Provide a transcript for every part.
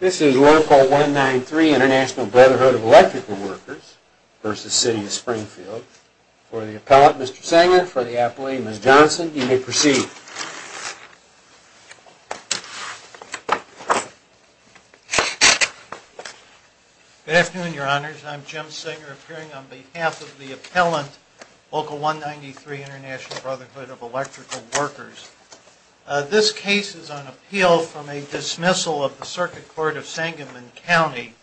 This is Local 193, International Brotherhood of Electrical Workers v. City of Springfield. For the appellant, Mr. Sanger, for the appellate, Ms. Johnson, you may proceed. Good afternoon, your honors, I'm Jim Sanger, appearing on behalf of the appellant, Local 193, International Brotherhood of Electrical Workers. This case is on appeal from a dismissal of the Circuit Court of Sangamon County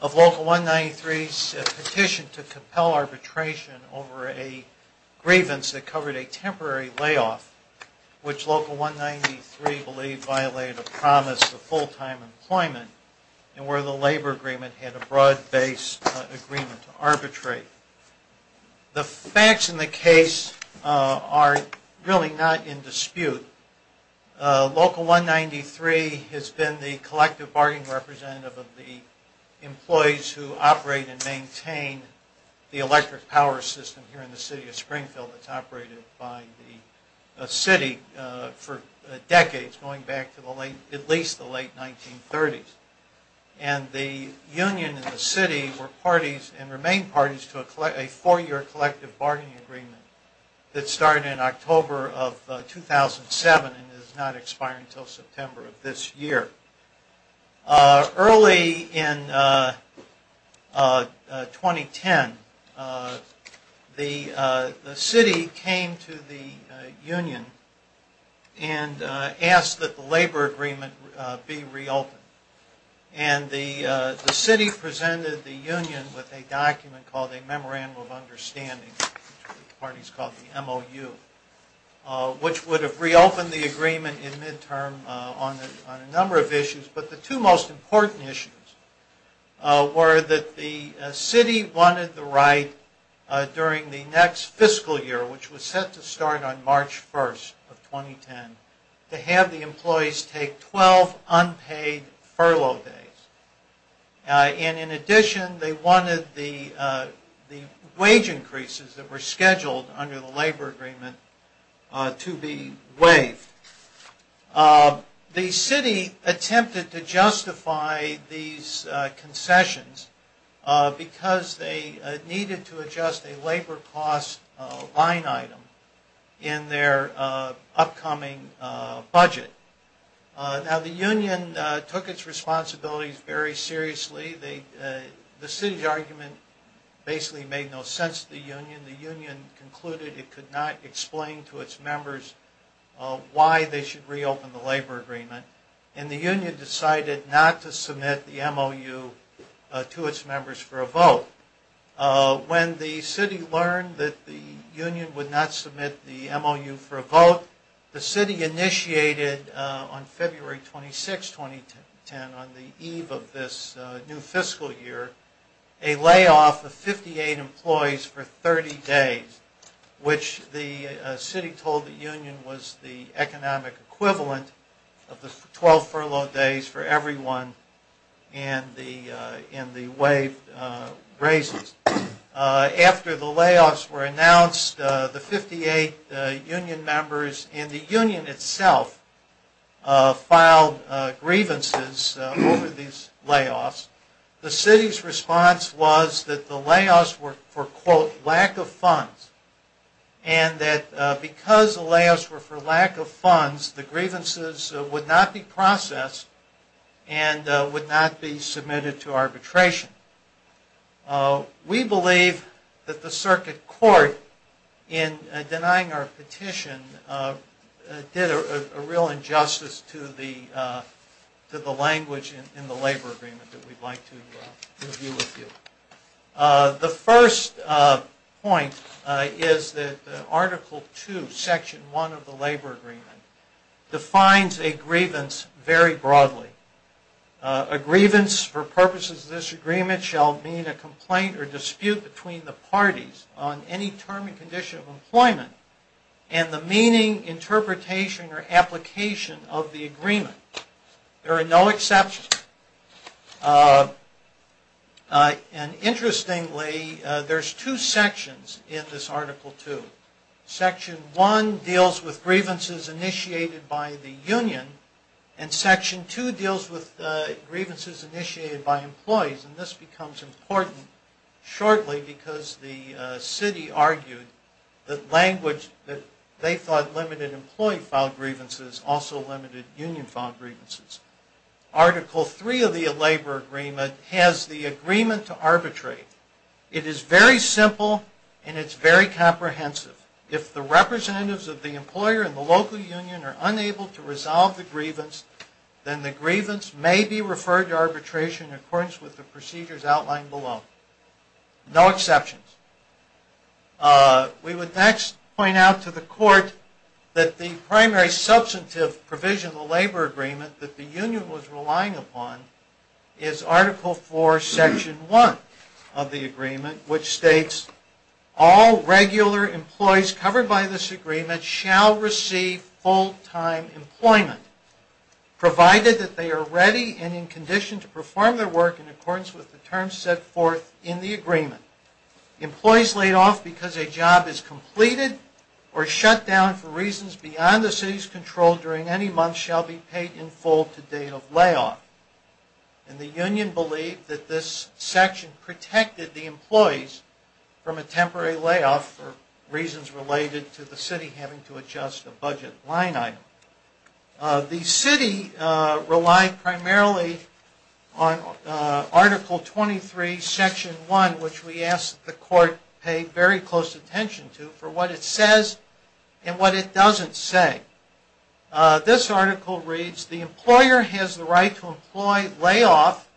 of Local 193's petition to compel arbitration over a grievance that covered a temporary layoff which Local 193 believed violated a promise of full-time employment and where the labor agreement had a broad-based agreement to arbitrate. The facts in the case are really not in dispute. Local 193 has been the collective bargaining representative of the employees who operate and maintain the electric power system here in the City of Springfield that's operated by the City for decades, going back to at least the late 1930s. And the union and the city were parties and remain parties to a four-year collective bargaining agreement that started in October of 2007 and is not expiring until September of this year. Early in 2010, the city came to the union and asked that the labor agreement be reopened. And the city presented the union with a document called a Memorandum of Understanding, a party important issues were that the city wanted the right during the next fiscal year, which was set to start on March 1st of 2010, to have the employees take 12 unpaid furlough days. And in addition, they wanted the wage increases that were scheduled under the labor agreement to be waived. The city attempted to justify these concessions because they needed to adjust a labor cost line item in their upcoming budget. Now, the union took its responsibilities very seriously. The city's argument basically made no sense to the union. And the union concluded it could not explain to its members why they should reopen the labor agreement. And the union decided not to submit the MOU to its members for a vote. When the city learned that the union would not submit the MOU for a vote, the city initiated on February 26, 2010, on the eve of this new fiscal year, a layoff of 58 employees for 30 days, which the city told the union was the economic equivalent of the 12 furlough days for everyone and the waived raises. After the layoffs were announced, the 58 union members and the union itself filed grievances over these layoffs. The city's response was that the layoffs were for, quote, lack of funds. And that because the layoffs were for lack of funds, the grievances would not be processed and would not be submitted to arbitration. We believe that the circuit court, in denying our petition, did a real injustice to the language in the labor agreement that we'd like to review with you. The first point is that Article 2, Section 1 of the labor agreement, defines a grievance very broadly. A grievance for purposes of this agreement shall mean a complaint or dispute between the parties on any term and condition of employment and the meaning, interpretation, or application of the agreement. There are no exceptions. And interestingly, there's two sections in this Article 2. Section 1 deals with grievances initiated by the union and Section 2 deals with grievances initiated by employees. And this becomes important shortly because the city argued that language that they thought limited employee filed grievances also limited union filed grievances. Article 3 of the labor agreement has the agreement to arbitrate. It is very simple and it's very comprehensive. If the representatives of the employer and the local union are unable to resolve the grievance, then the grievance may be referred to arbitration in accordance with the procedures outlined below. No exceptions. We would next point out to the court that the primary substantive provision of the labor agreement that the union was relying upon is Article 4, Section 1 of the agreement, which states, all regular employees covered by this agreement shall receive full-time employment, provided that they are ready and in condition to perform their work in accordance with the terms set forth in the agreement. Employees laid off because a job is completed or shut down for reasons beyond the city's control during any month shall be paid in full to date of layoff. And the union believed that this section protected the employees from a temporary layoff for reasons related to the city having to adjust a budget line item. The city relied primarily on Article 23, Section 1, which we ask that the court pay very close attention to for what it says and what it doesn't say. This article reads, the employer has the right to employ layoff,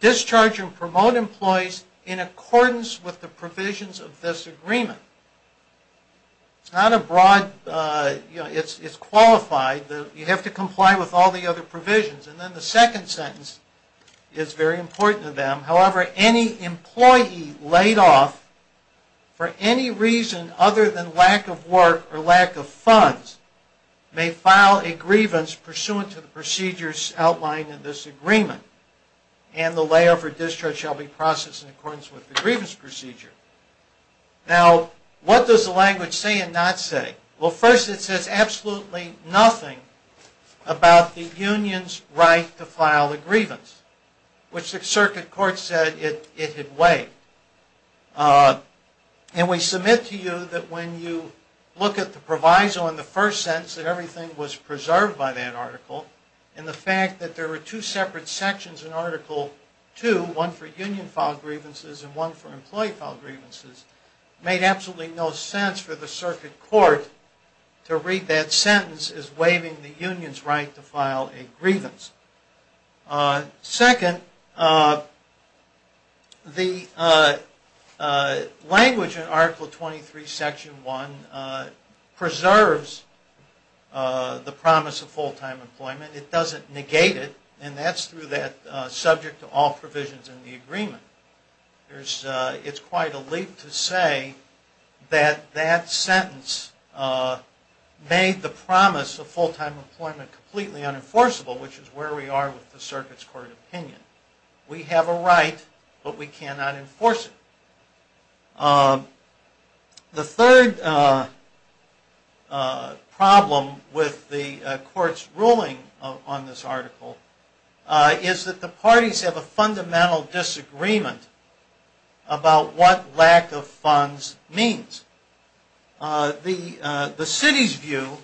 discharge and promote employees in accordance with the provisions of this agreement. It's not a broad, you know, it's qualified. You have to comply with all the other provisions. And then the second sentence is very important to them. However, any employee laid off for any reason other than lack of work or lack of funds may file a grievance pursuant to the procedures outlined in this agreement. And the layoff or discharge shall be processed in accordance with the grievance procedure. Now, what does the language say and not say? Well, first it says absolutely nothing about the union's right to file a grievance, which the circuit court said it had waived. And we submit to you that when you look at the proviso in the first sentence that everything was preserved by that article and the fact that there were two separate sections in Article 2, one for union filed grievances and one for employee filed grievances, made absolutely no sense for the circuit court to read that sentence as waiving the union's right to file a grievance. Second, the language in Article 23, Section 1, preserves the promise of full-time employment. It doesn't negate it, and that's through that subject to all provisions in the agreement. It's quite a leap to say that that sentence made the promise of full-time employment completely unenforceable, which is where we are with the circuit's court opinion. We have a right, but we cannot enforce it. The third problem with the court's ruling on this article is that the parties have a fundamental disagreement about what lack of funds means. The city's view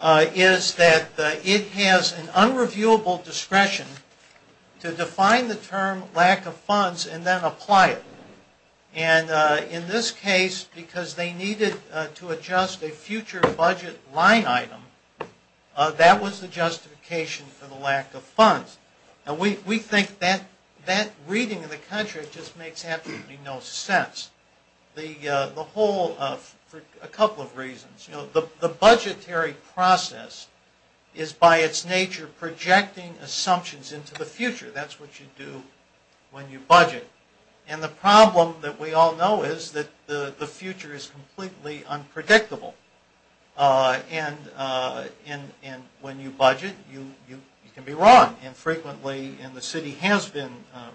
is that it has an unreviewable discretion to define the term lack of funds and then apply it. And in this case, because they needed to adjust a future budget line item, that was the justification for the lack of funds. And we think that reading of the contract just makes absolutely no sense. For a couple of reasons. The budgetary process is by its nature projecting assumptions into the future. That's what you do when you budget. And the problem that we all know is that the future is completely unpredictable. And when you budget, you can be wrong, and frequently the city has been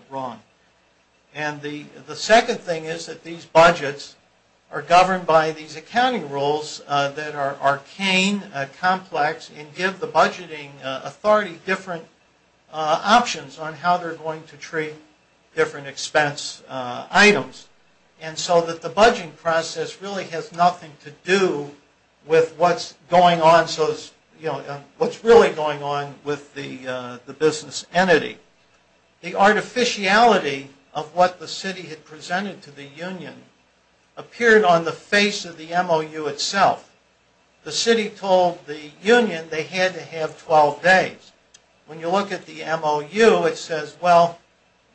wrong. And the second thing is that these budgets are governed by these accounting rules that are arcane, complex, and give the budgeting authority different options on how they're going to treat different expense items. And so that the budgeting process really has nothing to do with what's going on, what's really going on with the business entity. The artificiality of what the city had presented to the union appeared on the face of the MOU itself. The city told the union they had to have 12 days. When you look at the MOU, it says, well,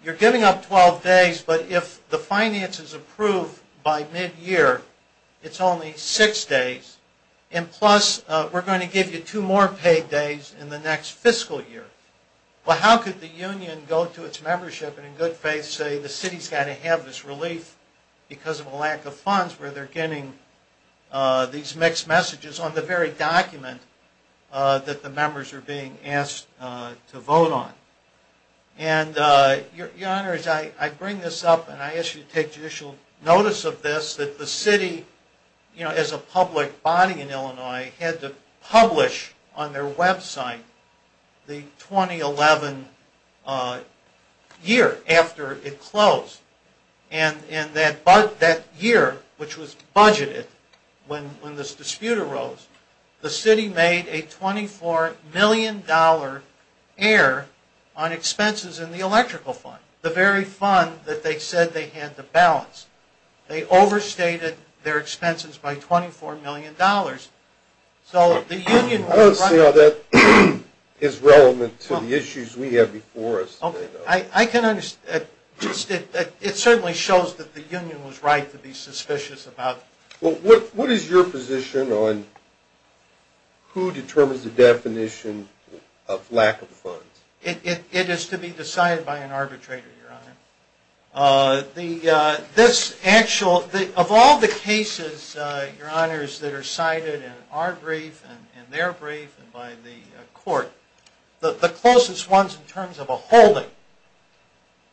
you're giving up 12 days, but if the finance is approved by mid-year, it's only six days, and plus we're going to give you two more paid days in the next fiscal year. Well, how could the union go to its membership and in good faith say the city's got to have this relief because of a lack of funds where they're getting these mixed messages on the very document that the members are being asked to vote on? And, Your Honors, I bring this up, and I ask you to take judicial notice of this, that the city, as a public body in Illinois, had to publish on their website the 2011 year after it closed. And that year, which was budgeted when this dispute arose, the city made a $24 million error on expenses in the electrical fund, the very fund that they said they had to balance. They overstated their expenses by $24 million. I don't see how that is relevant to the issues we have before us. I can understand. It certainly shows that the union was right to be suspicious about it. Well, what is your position on who determines the definition of lack of funds? It is to be decided by an arbitrator, Your Honor. Of all the cases, Your Honors, that are cited in our brief and their brief and by the court, the closest ones in terms of a holding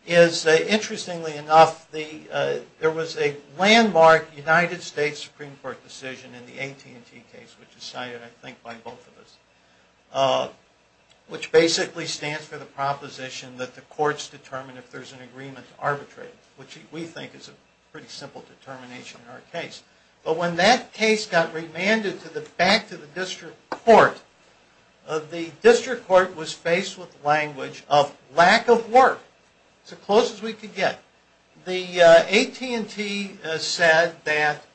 is, interestingly enough, there was a landmark United States Supreme Court decision in the AT&T case, which is cited, I think, by both of us, which basically stands for the proposition that the courts determine if there is an agreement to arbitrate, which we think is a pretty simple determination in our case. But when that case got remanded back to the district court, the district court was faced with language of lack of work. It was as close as we could get. The AT&T said that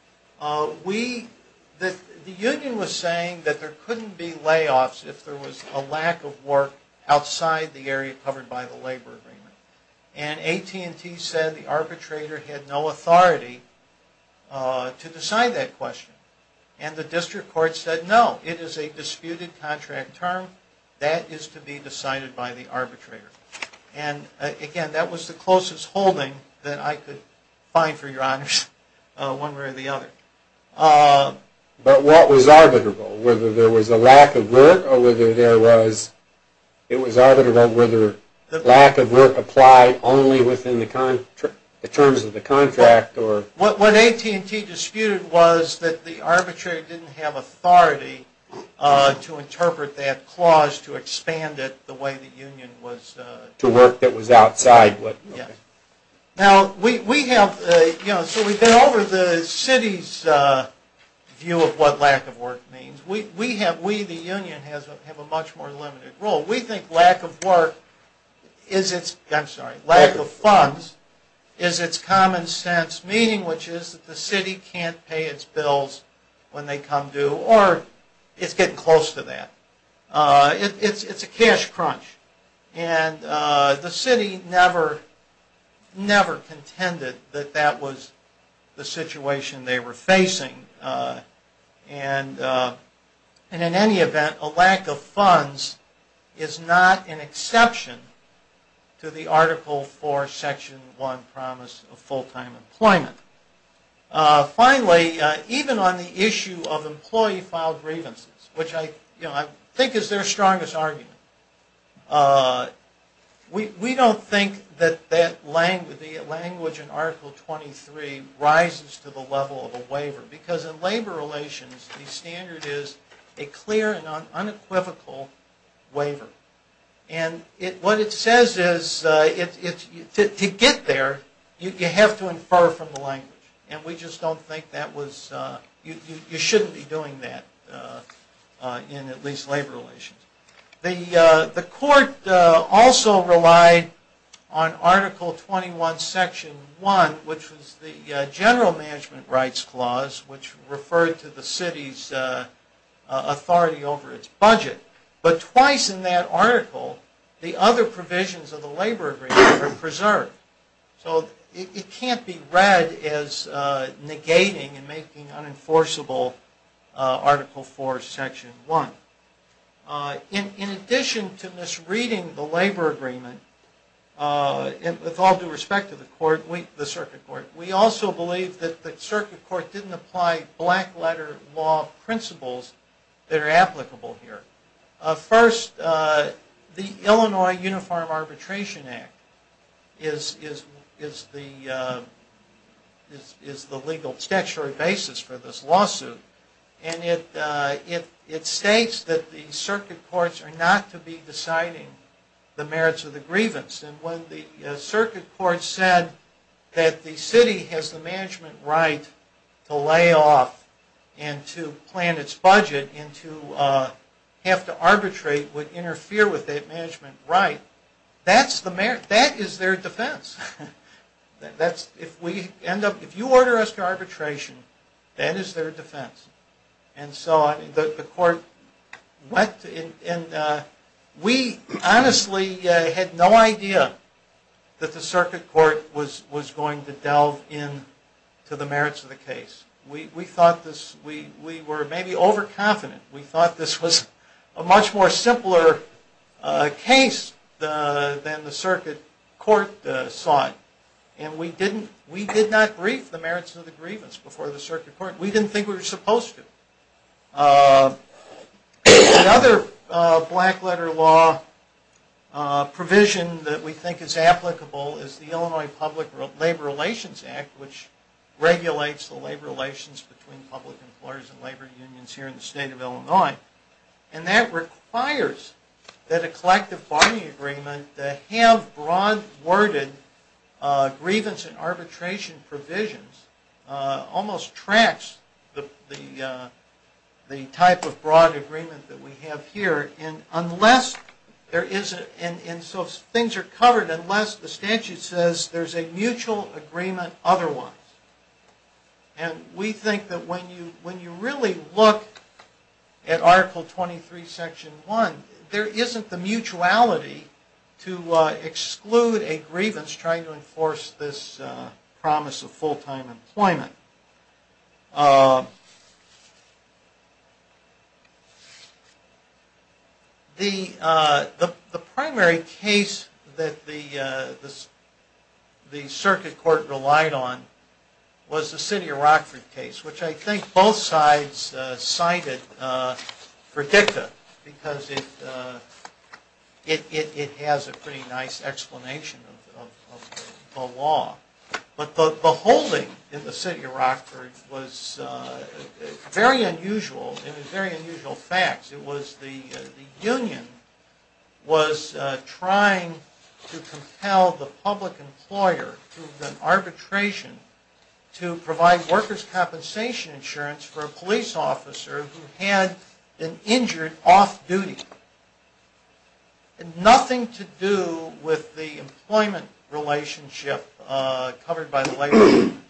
the union was saying that there couldn't be layoffs if there was a lack of work outside the area covered by the labor agreement. And AT&T said the arbitrator had no authority to decide that question. And the district court said, no, it is a disputed contract term. That is to be decided by the arbitrator. And, again, that was the closest holding that I could find for Your Honors, one way or the other. But what was arbitrable? Whether there was a lack of work or whether there was it was arbitrable whether lack of work applied only within the terms of the contract? What AT&T disputed was that the arbitrator didn't have authority to interpret that clause to expand it the way the union was To work that was outside. So we've been over the city's view of what lack of work means. We, the union, have a much more limited role. We think lack of work, I'm sorry, lack of funds is its common sense meaning, which is that the city can't pay its bills when they come due or it's getting close to that. It's a cash crunch. And the city never contended that that was the situation they were facing. And, in any event, a lack of funds is not an exception to the article for Section 1 promise of full-time employment. Finally, even on the issue of employee filed grievances, which I think is their strongest argument, we don't think that the language in Article 23 rises to the level of a waiver because in labor relations the standard is a clear and unequivocal waiver. And what it says is to get there you have to infer from the language. And we just don't think that was, you shouldn't be doing that in at least labor relations. The court also relied on Article 21, Section 1, which was the General Management Rights Clause, which referred to the city's authority over its budget. But twice in that article the other provisions of the labor agreement were preserved. So it can't be read as negating and making unenforceable Article 4, Section 1. In addition to misreading the labor agreement, with all due respect to the circuit court, we also believe that the circuit court didn't apply black-letter law principles that are applicable here. First, the Illinois Uniform Arbitration Act is the legal statutory basis for this lawsuit. And it states that the circuit courts are not to be deciding the merits of the grievance. And when the circuit court said that the city has the management right to lay off and to plan its budget and to have to arbitrate would interfere with that management right, that is their defense. If you order us to arbitration, that is their defense. And so the court went and we honestly had no idea that the circuit court was going to delve into the merits of the case. We thought this, we were maybe overconfident. We thought this was a much more simpler case than the circuit court saw it. And we did not brief the merits of the grievance before the circuit court. We didn't think we were supposed to. Another black-letter law provision that we think is applicable is the Illinois Public Labor Relations Act, which regulates the labor relations between public employers and labor unions here in the state of Illinois. And that requires that a collective bargaining agreement that have broad-worded grievance and arbitration provisions almost tracks the type of broad agreement that we have here. And so things are covered unless the statute says there is a mutual agreement otherwise. And we think that when you really look at Article 23, Section 1, there isn't the mutuality to exclude a grievance trying to enforce this promise of full-time employment. The primary case that the circuit court relied on was the city of Rockford case, which I think both sides cited for dicta because it has a pretty nice explanation of the law. But the holding in the city of Rockford was very unusual. It was very unusual facts. It was the union was trying to compel the public employer through the arbitration to provide workers' compensation insurance for a police officer who had been injured off-duty. Nothing to do with the employment relationship covered by the labor union.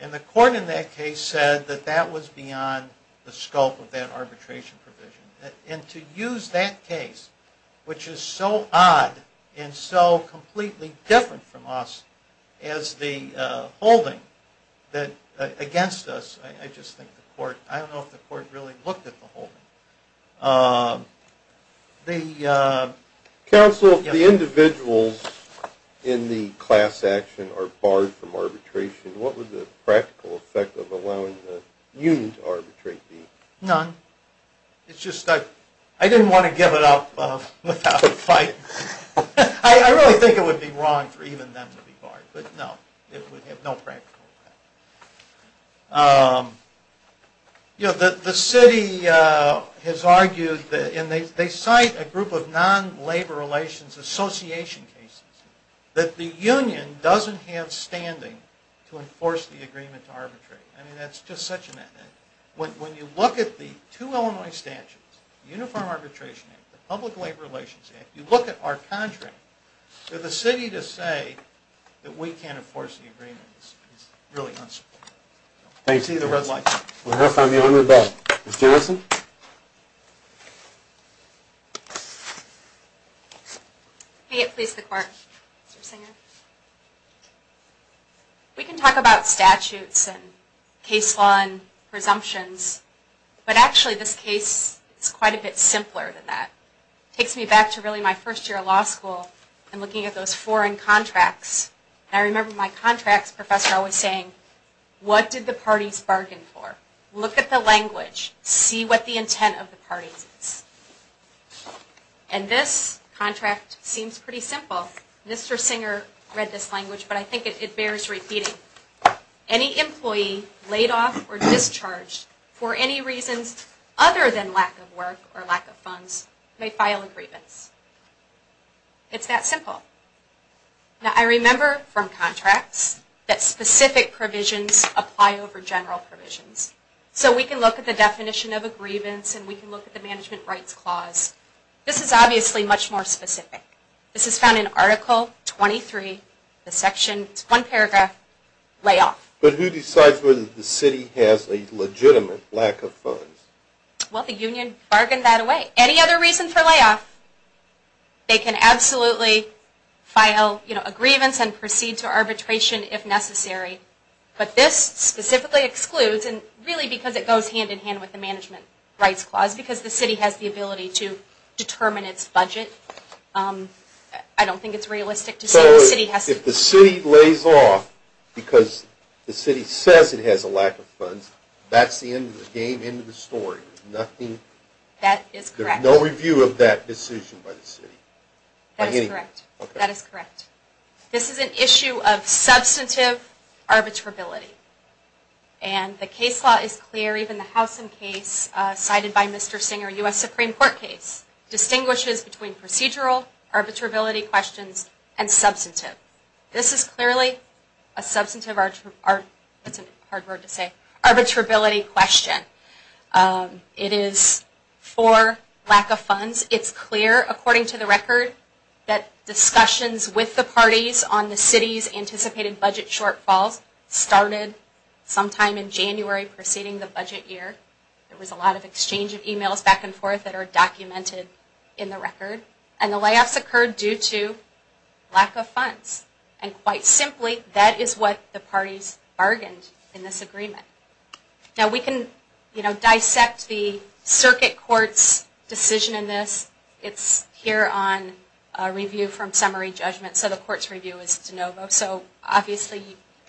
And the court in that case said that that was beyond the scope of that arbitration provision. And to use that case, which is so odd and so completely different from us, as the holding against us, I just think the court, I don't know if the court really looked at the holding. Counsel, if the individuals in the class action are barred from arbitration, what would the practical effect of allowing the union to arbitrate be? None. It's just I didn't want to give it up without a fight. I really think it would be wrong for even them to be barred. But no, it would have no practical effect. The city has argued, and they cite a group of non-labor relations association cases, that the union doesn't have standing to enforce the agreement to arbitrate. I mean, that's just such a mess. When you look at the two Illinois statutes, the Uniform Arbitration Act, the Public Labor Relations Act, you look at our contract, for the city to say that we can't enforce the agreement is really unsupportive. I see the red light. We'll have time to get on with that. Ms. Joneson? May it please the court, Mr. Singer? We can talk about statutes and case law and presumptions, but actually this case is quite a bit simpler than that. It takes me back to really my first year of law school and looking at those foreign contracts. I remember my contracts professor always saying, what did the parties bargain for? Look at the language. See what the intent of the parties is. And this contract seems pretty simple. Mr. Singer read this language, but I think it bears repeating. Any employee laid off or discharged for any reasons other than lack of work or lack of funds may file a grievance. It's that simple. Now I remember from contracts that specific provisions apply over general provisions. So we can look at the definition of a grievance and we can look at the Management Rights Clause. This is obviously much more specific. This is found in Article 23, the section, one paragraph, layoff. But who decides whether the city has a legitimate lack of funds? Well, the union bargained that away. Any other reason for layoff, they can absolutely file a grievance and proceed to arbitration if necessary. But this specifically excludes, and really because it goes hand-in-hand with the Management Rights Clause because the city has the ability to determine its budget. I don't think it's realistic to say the city has to. So if the city lays off because the city says it has a lack of funds, that's the end of the game, end of the story. There's no review of that decision by the city. That is correct. This is an issue of substantive arbitrability. And the case law is clear, even the House and Case, cited by Mr. Singer, U.S. Supreme Court case, distinguishes between procedural arbitrability questions and substantive. This is clearly a substantive, it's a hard word to say, arbitrability question. It is for lack of funds. It's clear, according to the record, that discussions with the parties on the city's anticipated budget shortfalls started sometime in January preceding the budget year. There was a lot of exchange of emails back and forth that are documented in the record. And the layoffs occurred due to lack of funds. And quite simply, that is what the parties bargained in this agreement. Now we can, you know, dissect the circuit court's decision in this. It's here on review from summary judgment. So the court's review is de novo. So obviously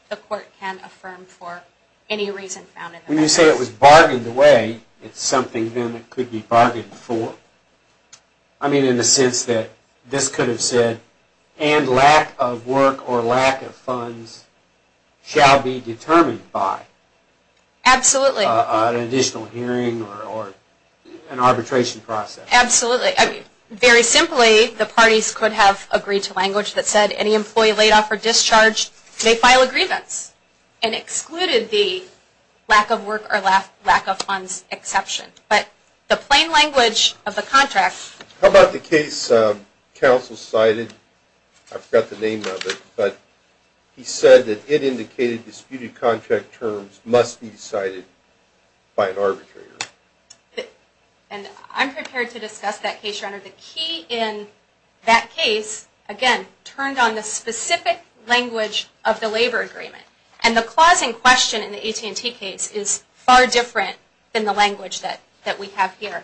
the court can affirm for any reason found in this. When you say it was bargained away, it's something then that could be bargained for. I mean, in the sense that this could have said, and lack of work or lack of funds shall be determined by. Absolutely. An additional hearing or an arbitration process. Absolutely. Very simply, the parties could have agreed to language that said any employee laid off or discharged may file a grievance and excluded the lack of work or lack of funds exception. But the plain language of the contract. How about the case counsel cited? I forgot the name of it, but he said that it indicated disputed contract terms must be decided by an arbitrator. And I'm prepared to discuss that case, Render. The key in that case, again, turned on the specific language of the labor agreement. And the clause in question in the AT&T case is far different than the language that we have here.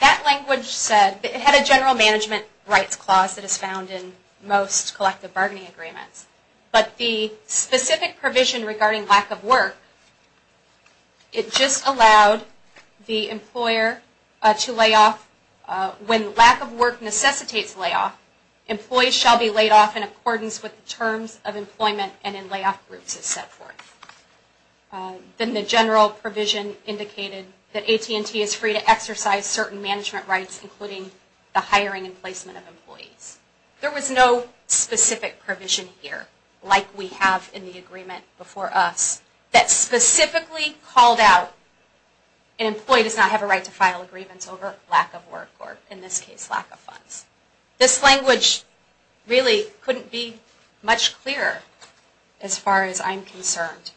That language said, it had a general management rights clause that is found in most collective bargaining agreements. But the specific provision regarding lack of work, it just allowed the employer to lay off, when lack of work necessitates layoff, employees shall be laid off in accordance with the terms of employment and in layoff groups as set forth. Then the general provision indicated that AT&T is free to exercise certain management rights, including the hiring and placement of employees. There was no specific provision here, like we have in the agreement before us, that specifically called out an employee does not have a right to file a grievance over lack of work or, in this case, lack of funds. This language really couldn't be much clearer as far as I'm concerned.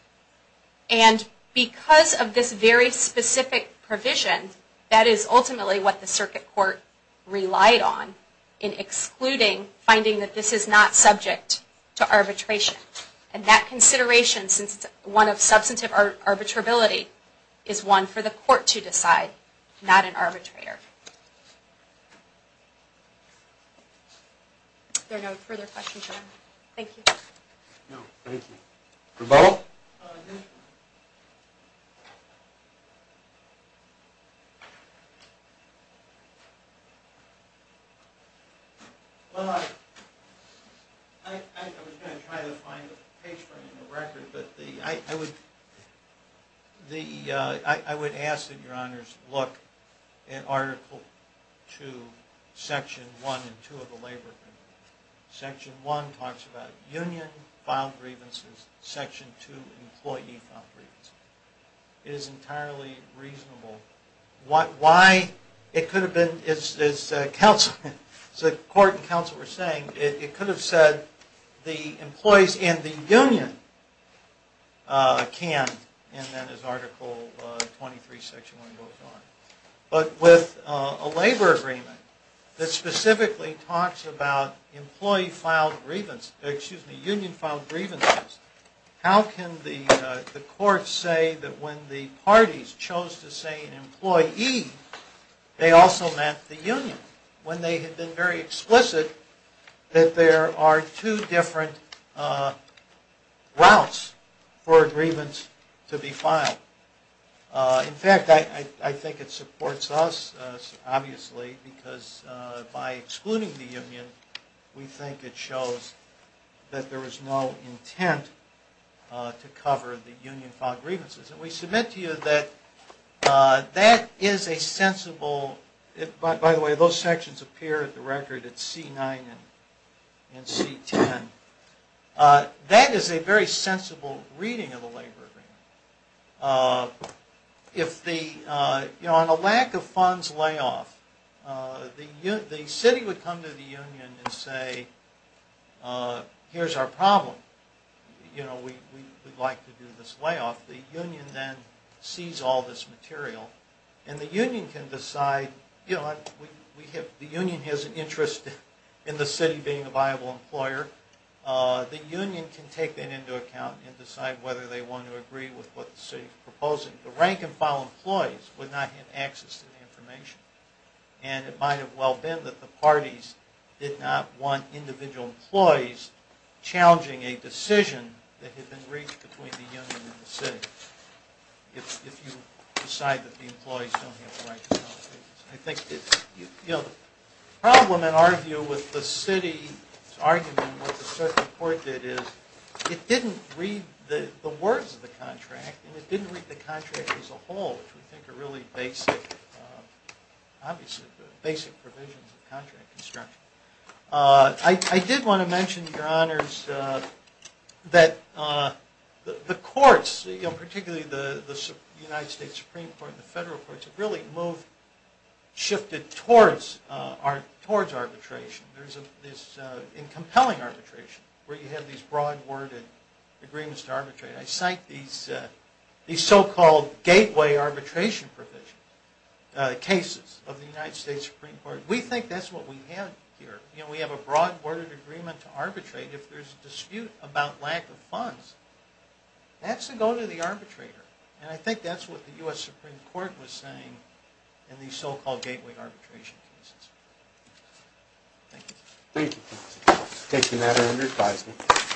And because of this very specific provision, that is ultimately what the circuit court relied on in excluding finding that this is not subject to arbitration. And that consideration, since it's one of substantive arbitrability, is one for the court to decide, not an arbitrator. If there are no further questions, we're done. Thank you. No, thank you. Rebuttal? Well, I was going to try to find a page for it in the record, but I would ask that Your Honors look at Article 2, Section 1 and 2 of the Labor Amendment. Section 1 talks about union-filed grievances. Section 2, employee-filed grievances. It is entirely reasonable. Why it could have been, as the court and counsel were saying, it could have said the employees and the union can, and then as Article 23, Section 1 goes on. But with a labor agreement that specifically talks about union-filed grievances, how can the court say that when the parties chose to say an employee, they also meant the union, when they had been very explicit that there are two different routes for a grievance to be filed. In fact, I think it supports us, obviously, because by excluding the union, we think it shows that there was no intent to cover the union-filed grievances. And we submit to you that that is a sensible... By the way, those sections appear in the record at C9 and C10. That is a very sensible reading of the labor agreement. On a lack of funds layoff, the city would come to the union and say, here's our problem. We'd like to do this layoff. The union then sees all this material, and the union can decide... The union has an interest in the city being a viable employer. The union can take that into account and decide whether they want to agree with what the city is proposing. The rank-and-file employees would not have access to the information. And it might have well been that the parties did not want individual employees challenging a decision that had been reached between the union and the city. If you decide that the employees don't have the right... The problem in our view with the city's argument, what the circuit court did is, it didn't read the words of the contract, and it didn't read the contract as a whole, which we think are really basic... Obviously, basic provisions of contract construction. I did want to mention, Your Honors, that the courts, particularly the United States Supreme Court and the federal courts, have really shifted towards arbitration. In compelling arbitration, where you have these broad-worded agreements to arbitrate. I cite these so-called gateway arbitration provision cases of the United States Supreme Court. We think that's what we have here. We have a broad-worded agreement to arbitrate. If there's a dispute about lack of funds, that's to go to the arbitrator. And I think that's what the U.S. Supreme Court was saying in these so-called gateway arbitration cases. Thank you. Thank you.